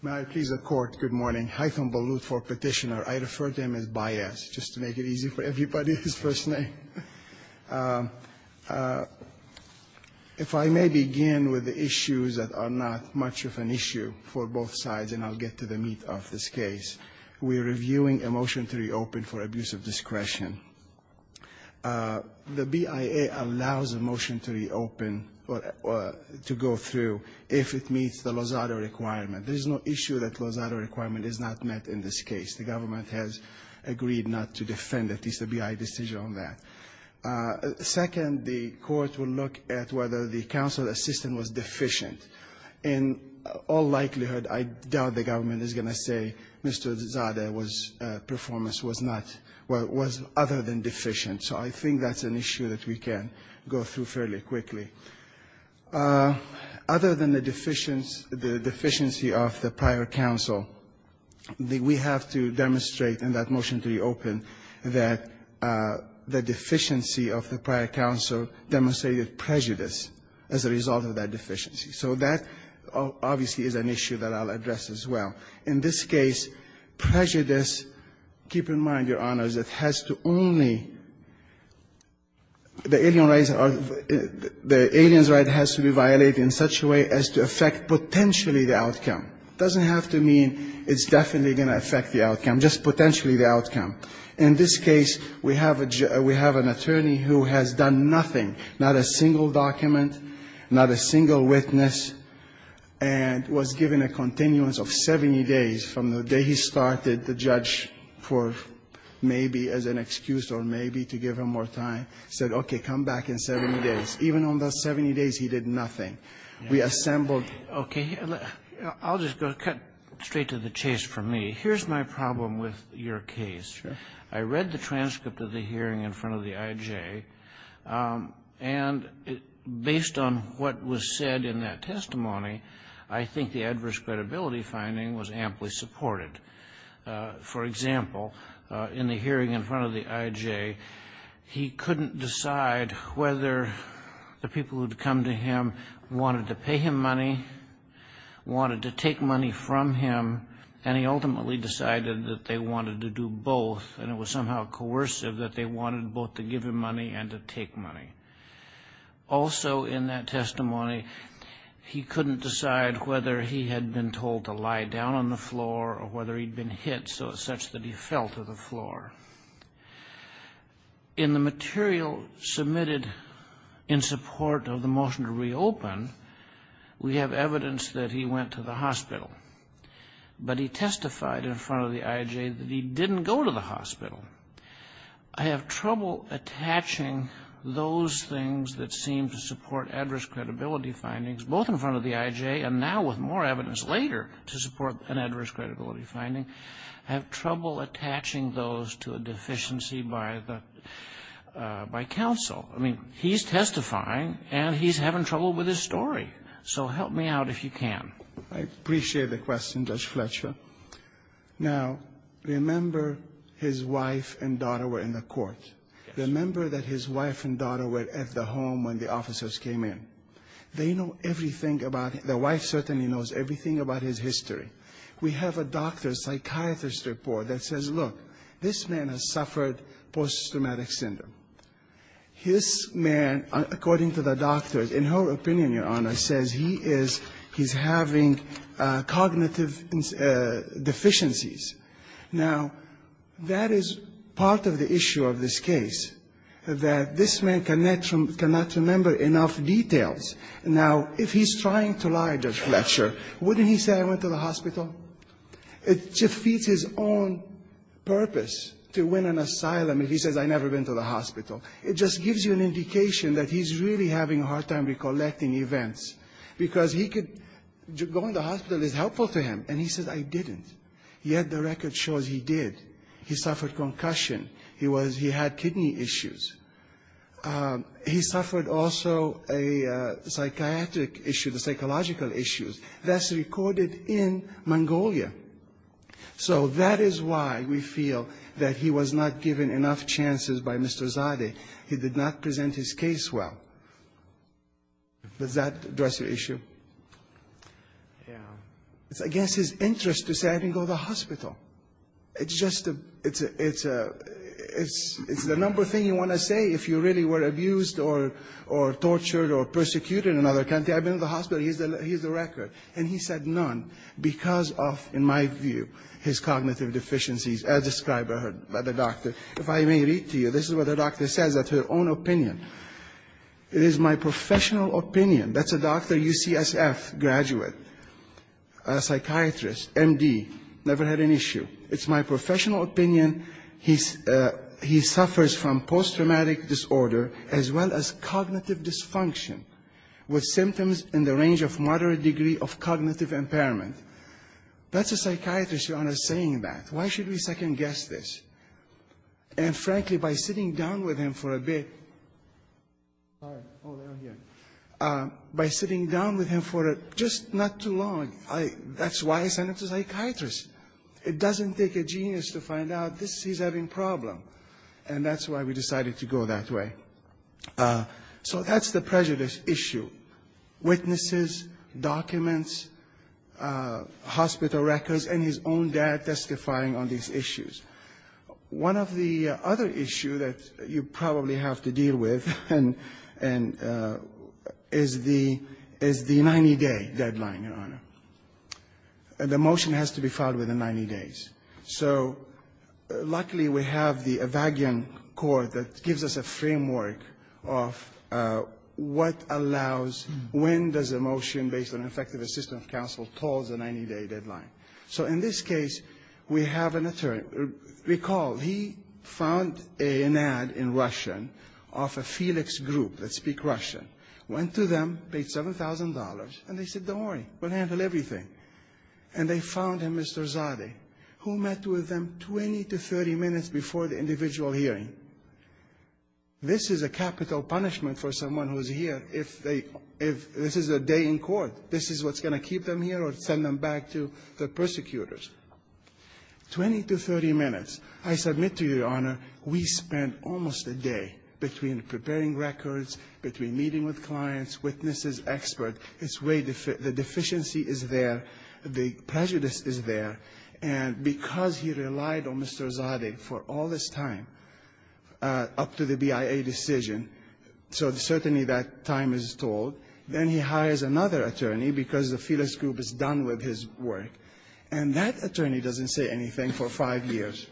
May I please, the court, good morning. Haitham Balut for petitioner. I refer to him as Bias, just to make it easy for everybody, his first name. If I may begin with the issues that are not much of an issue for both sides, and I'll get to the meat of this case. We are reviewing a motion to reopen for abuse of discretion. The BIA allows a motion to reopen or to go through if it meets the Lozada requirement. There is no issue that Lozada requirement is not met in this case. The government has agreed not to defend at least the BIA decision on that. Second, the court will look at whether the counsel assistant was deficient. In all likelihood, I doubt the government is going to say Mr. Lozada's performance was not other than deficient. So I think that's an issue that we can go through fairly quickly. Other than the deficiency of the prior counsel, we have to demonstrate in that motion to reopen that the deficiency of the prior counsel demonstrated prejudice as a result of that deficiency. So that obviously is an issue that I'll address as well. In this case, prejudice, keep in mind, Your Honors, it has to only the alien rights or the alien's right has to be violated in such a way as to affect potentially the outcome. It doesn't have to mean it's definitely going to affect the outcome, just potentially the outcome. In this case, we have an attorney who has done nothing, not a single document, not a single witness, and was given a continuance of 70 days from the day he started, the judge, for maybe as an excuse or maybe to give him more time, said, okay, come back in 70 days. Even on those 70 days, he did nothing. We assembled. Okay. I'll just go straight to the chase for me. Here's my problem with your case. Sure. I read the transcript of the hearing in front of the IJ, and based on what was said in that testimony, I think the adverse credibility finding was amply supported. For example, in the hearing in front of the IJ, he couldn't decide whether the people who had come to him wanted to pay him money, wanted to take money from him, and he ultimately decided that they wanted to do both, and it was somehow coercive that they wanted both to give him money and to take money. Also in that testimony, he couldn't decide whether he had been told to lie down on the floor or whether he'd been hit such that he fell to the floor. In the material submitted in support of the motion to reopen, we have evidence that he testified in front of the IJ that he didn't go to the hospital. I have trouble attaching those things that seem to support adverse credibility findings, both in front of the IJ and now with more evidence later to support an adverse credibility finding, I have trouble attaching those to a deficiency by the by counsel. I mean, he's testifying, and he's having trouble with his story. So help me out if you can. I appreciate the question, Judge Fletcher. Now, remember his wife and daughter were in the court. Remember that his wife and daughter were at the home when the officers came in. They know everything about him. The wife certainly knows everything about his history. We have a doctor's psychiatrist report that says, look, this man has suffered post-traumatic syndrome. His man, according to the doctor, in her opinion, Your Honor, says he is he's having cognitive deficiencies. Now, that is part of the issue of this case, that this man cannot remember enough details. Now, if he's trying to lie, Judge Fletcher, wouldn't he say I went to the hospital? It defeats his own purpose to win an asylum if he says I never went to the hospital. It just gives you an indication that he's really having a hard time recollecting events, because he could go in the hospital is helpful to him, and he says I didn't. Yet the record shows he did. He suffered concussion. He was he had kidney issues. He suffered also a psychiatric issue, the psychological issues. That's recorded in Mongolia. So that is why we feel that he was not given enough chances by Mr. Zadeh. He did not present his case well. Does that address your issue? Yeah. It's against his interest to say I didn't go to the hospital. It's just a it's a it's a it's the number thing you want to say if you really were abused or tortured or persecuted in another country. I've been to the hospital. Here's the record. And he said none, because of, in my view, his cognitive deficiencies, as described by the doctor. If I may read to you, this is what the doctor says of her own opinion. It is my professional opinion. That's a doctor, UCSF graduate, a psychiatrist, MD, never had an issue. It's my professional opinion. He suffers from post-traumatic disorder as well as cognitive dysfunction with symptoms in the range of moderate degree of cognitive impairment. That's a psychiatrist, Your Honor, saying that. Why should we second-guess this? And, frankly, by sitting down with him for a bit, by sitting down with him for just not too long, that's why I sent him to a psychiatrist. It doesn't take a genius to find out he's having a problem. And that's why we decided to go that way. So that's the prejudice issue. Witnesses, documents, hospital records, and his own dad testifying on these issues. One of the other issues that you probably have to deal with is the 90-day deadline, Your Honor. The motion has to be filed within 90 days. So, luckily, we have the Evagen court that gives us a framework of what allows, when does a motion based on effective assistance of counsel call the 90-day deadline. So in this case, we have an attorney. Recall, he found an ad in Russian of a Felix group that speak Russian, went to them, paid $7,000, and they said, don't worry, we'll handle everything. And they found him, Mr. Zadeh, who met with them 20 to 30 minutes before the individual hearing. This is a capital punishment for someone who's here if they – if this is a day in court. This is what's going to keep them here or send them back to the persecutors. Twenty to 30 minutes. I submit to you, Your Honor, we spent almost a day between preparing records, between meeting with clients, witnesses, expert. It's way – the deficiency is there. The prejudice is there. And because he relied on Mr. Zadeh for all this time, up to the BIA decision, so certainly that time is told, then he hires another attorney because the Felix group is done with his work. And that attorney doesn't say anything for five years.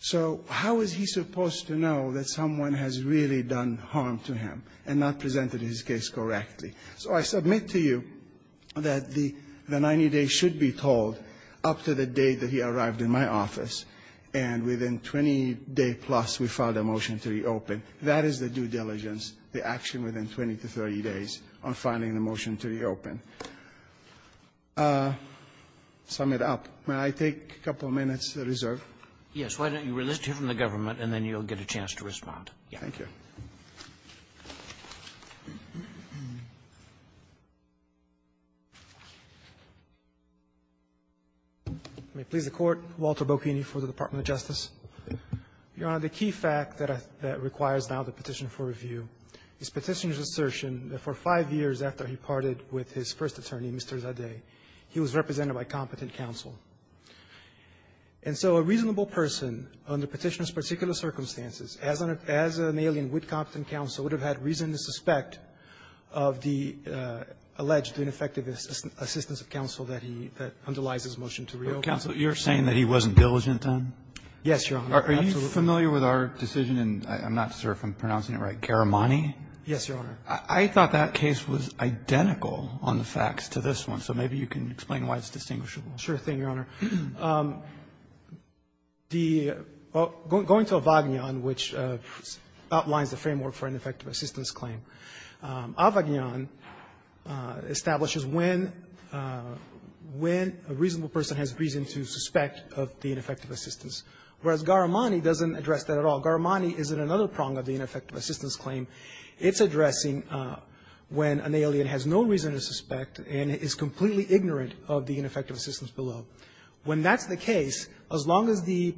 So how is he supposed to know that someone has really done harm to him and not presented his case correctly? So I submit to you that the 90 days should be told up to the day that he arrived in my office. And within 20-day-plus, we filed a motion to reopen. That is the due diligence, the action within 20 to 30 days on filing the motion to reopen. To sum it up, may I take a couple minutes reserve? Yes. Why don't you relitigate from the government, and then you'll get a chance to respond. Thank you. May it please the Court. Walter Bocchini for the Department of Justice. Your Honor, the key fact that requires now the petition for review is Petitioner's assertion that for five years after he parted with his first attorney, Mr. Zadeh, he was represented by competent counsel. And so a reasonable person under Petitioner's particular circumstances, as an alien with competent counsel, would have had reason to suspect of the alleged ineffective assistance of counsel that he underlies his motion to reopen. But, counsel, you're saying that he wasn't diligent then? Yes, Your Honor. Are you familiar with our decision in, I'm not sure if I'm pronouncing it right, Garamani? Yes, Your Honor. I thought that case was identical on the facts to this one. So maybe you can explain why it's distinguishable. Sure thing, Your Honor. The going to Avagnon, which outlines the framework for ineffective assistance claim, Avagnon establishes when a reasonable person has reason to suspect of the ineffective assistance, whereas Garamani doesn't address that at all. Garamani isn't another prong of the ineffective assistance claim. It's addressing when an alien has no reason to suspect and is completely ignorant of the ineffective assistance below. When that's the case, as long as the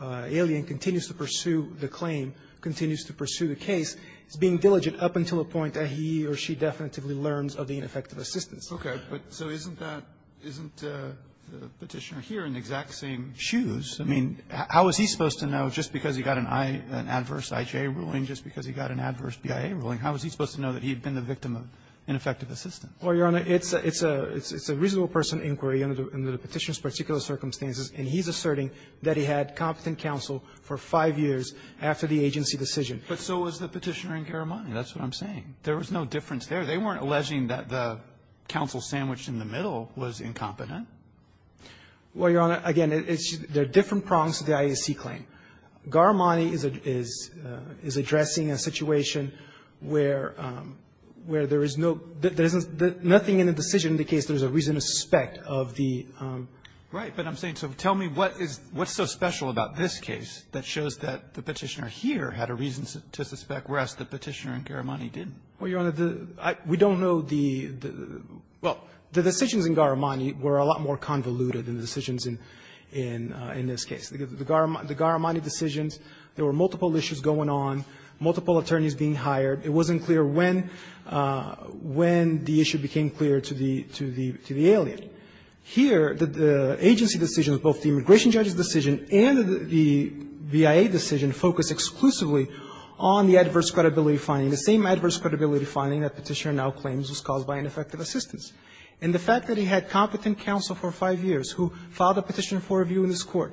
alien continues to pursue the claim, continues to pursue the case, it's being diligent up until a point that he or she definitively learns of the ineffective assistance. Okay. But so isn't that isn't Petitioner here in the exact same shoes? I mean, how is he supposed to know just because he got an I, an adverse IJ ruling, just because he got an adverse BIA ruling, how is he supposed to know that he had been the victim of ineffective assistance? Well, Your Honor, it's a reasonable person inquiry under the Petitioner's particular circumstances, and he's asserting that he had competent counsel for five years after the agency decision. But so was the Petitioner and Garamani. That's what I'm saying. There was no difference there. They weren't alleging that the counsel sandwiched in the middle was incompetent. Well, Your Honor, again, it's the different prongs of the IAC claim. Nothing in the decision in the case, there's a reason to suspect of the um Right. But I'm saying, so tell me what is what's so special about this case that shows that the Petitioner here had a reason to suspect, whereas the Petitioner and Garamani didn't. Well, Your Honor, the I we don't know the well, the decisions in Garamani were a lot more convoluted than the decisions in in in this case. The Garamani decisions, there were multiple issues going on, multiple attorneys being hired. It wasn't clear when when the issue became clear to the to the to the alien. Here, the agency decisions, both the immigration judge's decision and the BIA decision focused exclusively on the adverse credibility finding, the same adverse credibility finding that Petitioner now claims was caused by ineffective assistance. And the fact that he had competent counsel for five years who filed a petition for review in this Court,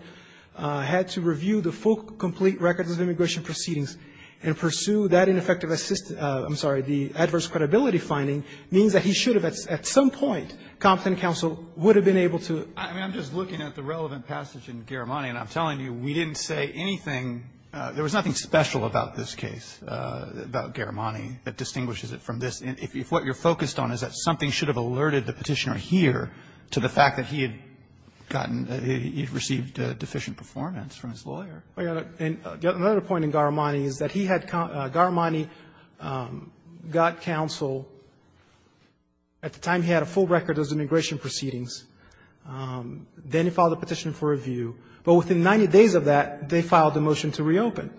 had to review the full complete records of immigration proceedings and pursue that ineffective assist, I'm sorry, the adverse credibility finding, means that he should have at some point, competent counsel would have been able to. I mean, I'm just looking at the relevant passage in Garamani, and I'm telling you, we didn't say anything. There was nothing special about this case, about Garamani, that distinguishes it from this. If what you're focused on is that something should have alerted the Petitioner here to the fact that he had gotten, he had received deficient performance from his lawyer. And another point in Garamani is that he had Garamani got counsel at the time he had a full record of immigration proceedings. Then he filed a petition for review. But within 90 days of that, they filed a motion to reopen.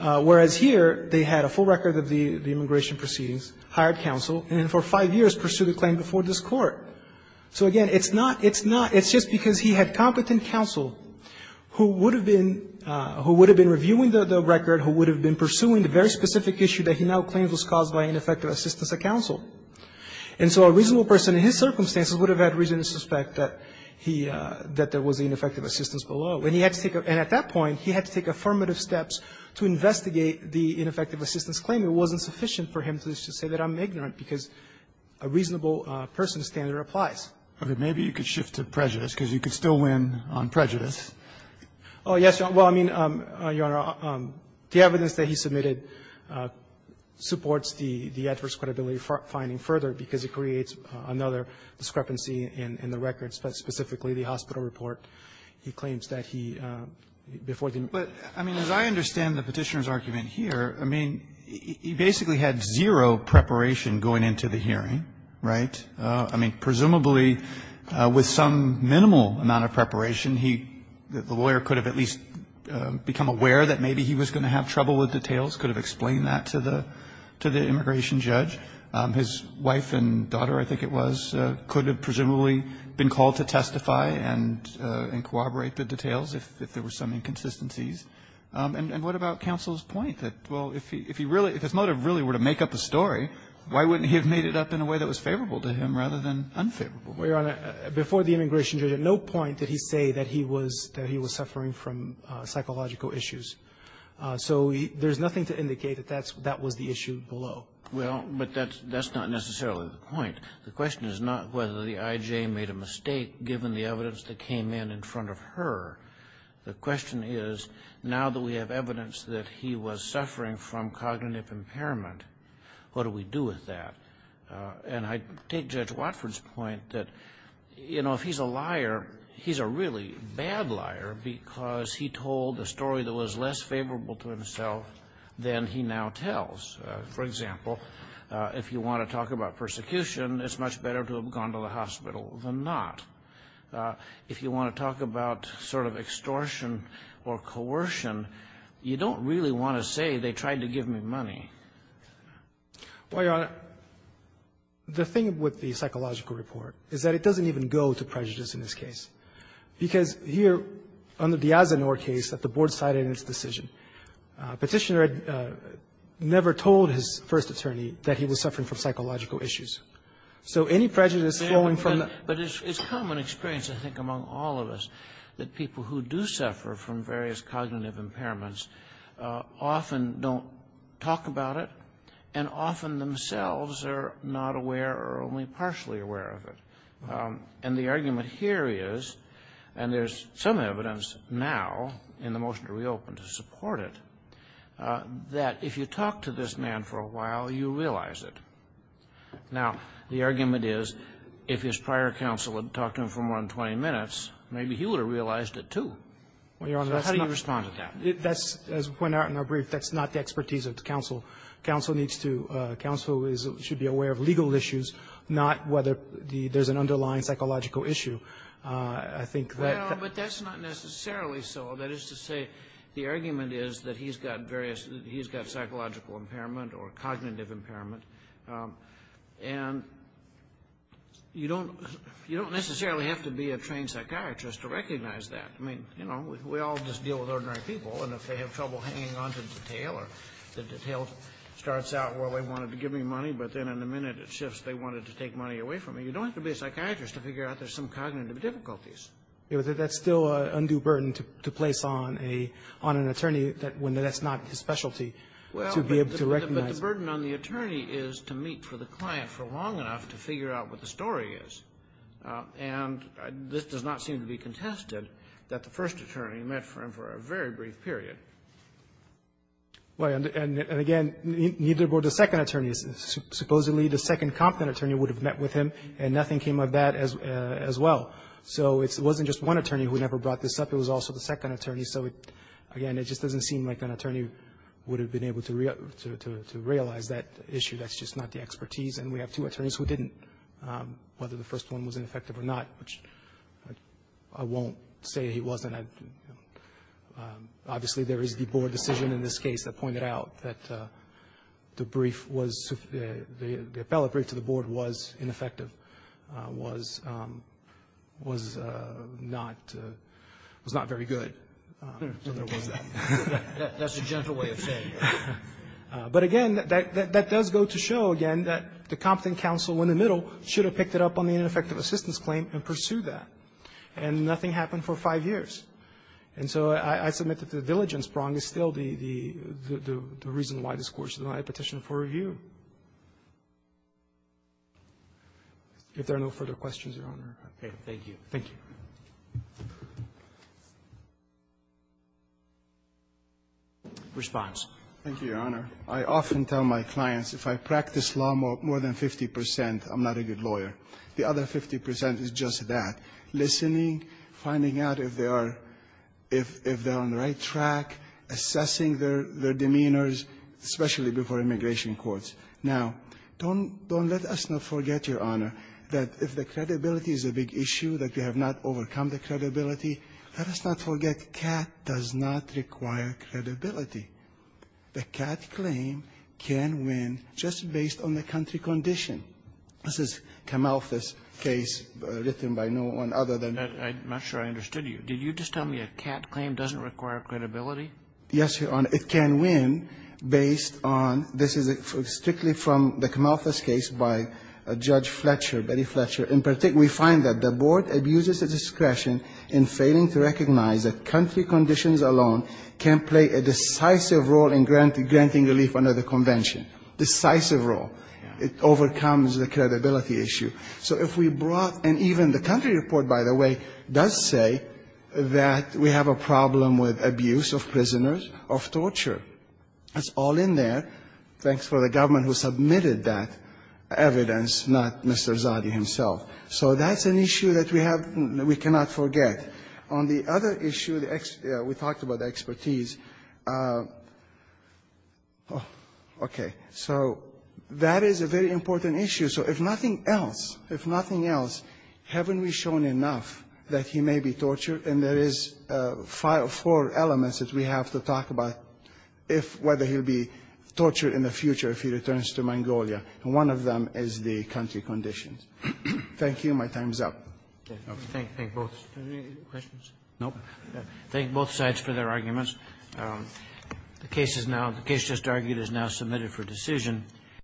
Whereas here, they had a full record of the immigration proceedings, hired counsel, and then for five years pursued a claim before this Court. So again, it's not, it's not, it's just because he had competent counsel who would have been, who would have been reviewing the record, who would have been pursuing the very specific issue that he now claims was caused by ineffective assistance of counsel. And so a reasonable person in his circumstances would have had reason to suspect that he, that there was ineffective assistance below. And he had to take, and at that point, he had to take affirmative steps to investigate the ineffective assistance claim. It wasn't sufficient for him to say that I'm ignorant, because a reasonable person's standard applies. Roberts, maybe you could shift to prejudice, because you could still win on prejudice. Oh, yes, Your Honor. Well, I mean, Your Honor, the evidence that he submitted supports the adverse credibility finding further, because it creates another discrepancy in the record, specifically the hospital report he claims that he, before the meeting. But, I mean, as I understand the Petitioner's argument here, I mean, he basically had zero preparation going into the hearing, right? I mean, presumably, with some minimal amount of preparation, he, the lawyer could have at least become aware that maybe he was going to have trouble with details, could have explained that to the immigration judge. His wife and daughter, I think it was, could have presumably been called to testify and corroborate the details if there were some inconsistencies. And what about counsel's point that, well, if he really, if his motive really were to make up a story, why wouldn't he have made it up in a way that was favorable to him rather than unfavorable? Well, Your Honor, before the immigration judge, at no point did he say that he was suffering from psychological issues. So there's nothing to indicate that that was the issue below. Well, but that's not necessarily the point. The question is not whether the I.J. made a mistake, given the evidence that came in in front of her. The question is, now that we have evidence that he was suffering from cognitive impairment, what do we do with that? And I take Judge Watford's point that, you know, if he's a liar, he's a really bad liar because he told a story that was less favorable to himself than he now tells. For example, if you want to talk about persecution, it's much better to have gone to the hospital than not. If you want to talk about sort of extortion or coercion, you don't really want to say they tried to give me money. Well, Your Honor, the thing with the psychological report is that it doesn't even go to prejudice in this case, because here, under the Azenor case that the Board cited in its decision, Petitioner never told his first attorney that he was suffering from psychological issues. So any prejudice flowing from the ---- But it's common experience, I think, among all of us, that people who do suffer from various cognitive impairments often don't talk about it and often themselves are not aware or only partially aware of it. And the argument here is, and there's some evidence now in the motion to reopen to support it, that if you talk to this man for a while, you realize it. Now, the argument is, if his prior counsel had talked to him for more than 20 minutes, maybe he would have realized it, too. So how do you respond to that? That's, as we pointed out in our brief, that's not the expertise of the counsel. Counsel needs to ---- counsel should be aware of legal issues, not whether there's an underlying psychological issue. I think that ---- Well, but that's not necessarily so. That is to say, the argument is that he's got various ---- he's got psychological impairment or cognitive impairment. And you don't necessarily have to be a trained psychiatrist to recognize that. I mean, you know, we all just deal with ordinary people. And if they have trouble hanging on to detail or the detail starts out where they wanted to give me money, but then in a minute it shifts, they wanted to take money away from me, you don't have to be a psychiatrist to figure out there's some cognitive difficulties. Yeah, but that's still an undue burden to place on an attorney when that's not his specialty to be able to recognize. But the burden on the attorney is to meet for the client for long enough to figure out what the story is. And this does not seem to be contested, that the first attorney met for him for a very brief period. Well, and again, neither were the second attorneys. Supposedly, the second competent attorney would have met with him, and nothing came of that as well. So it wasn't just one attorney who never brought this up. It was also the second attorney. So again, it just doesn't seem like an attorney would have been able to realize that issue. That's just not the expertise. And we have two attorneys who didn't, whether the first one was ineffective or not, which I won't say he wasn't. Obviously, there is the board decision in this case that pointed out that the brief was, the appellate brief to the board was ineffective, was not very good. So there was that. That's a gentle way of saying it. But again, that does go to show, again, that the competent counsel in the middle should have picked it up on the ineffective assistance claim and pursued that. And nothing happened for five years. And so I submit that the diligence prong is still the reason why this Court should not have petitioned for review. If there are no further questions, Your Honor. Roberts. Thank you. Thank you. Response. Thank you, Your Honor. I often tell my clients, if I practice law more than 50 percent, I'm not a good lawyer. The other 50 percent is just that, listening, finding out if they are — if they're on the right track, assessing their demeanors, especially before immigration courts. Now, don't let us not forget, Your Honor, that if the credibility is a big issue that they have not overcome the credibility, let us not forget, CAT does not require credibility. The CAT claim can win just based on the country condition. This is a Camalthus case written by no one other than — I'm not sure I understood you. Did you just tell me a CAT claim doesn't require credibility? Yes, Your Honor. It can win based on — this is strictly from the Camalthus case by Judge Fletcher, Betty Fletcher. In particular, we find that the board abuses its discretion in failing to recognize that country conditions alone can play a decisive role in granting relief under the Convention. Decisive role. It overcomes the credibility issue. So if we brought — and even the country report, by the way, does say that we have a problem with abuse of prisoners of torture. That's all in there. Thanks for the government who submitted that evidence, not Mr. Zadi himself. So that's an issue that we have — we cannot forget. On the other issue, we talked about expertise. Okay. So that is a very important issue. So if nothing else, if nothing else, haven't we shown enough that he may be tortured? And there is five or four elements that we have to talk about if — whether he'll be tortured in the future if he returns to Mongolia, and one of them is the country conditions. Thank you. My time is up. Okay. Thank you. Thank you both. Any questions? No? Thank you both sides for their arguments. The case is now — the case just argued is now submitted for decision.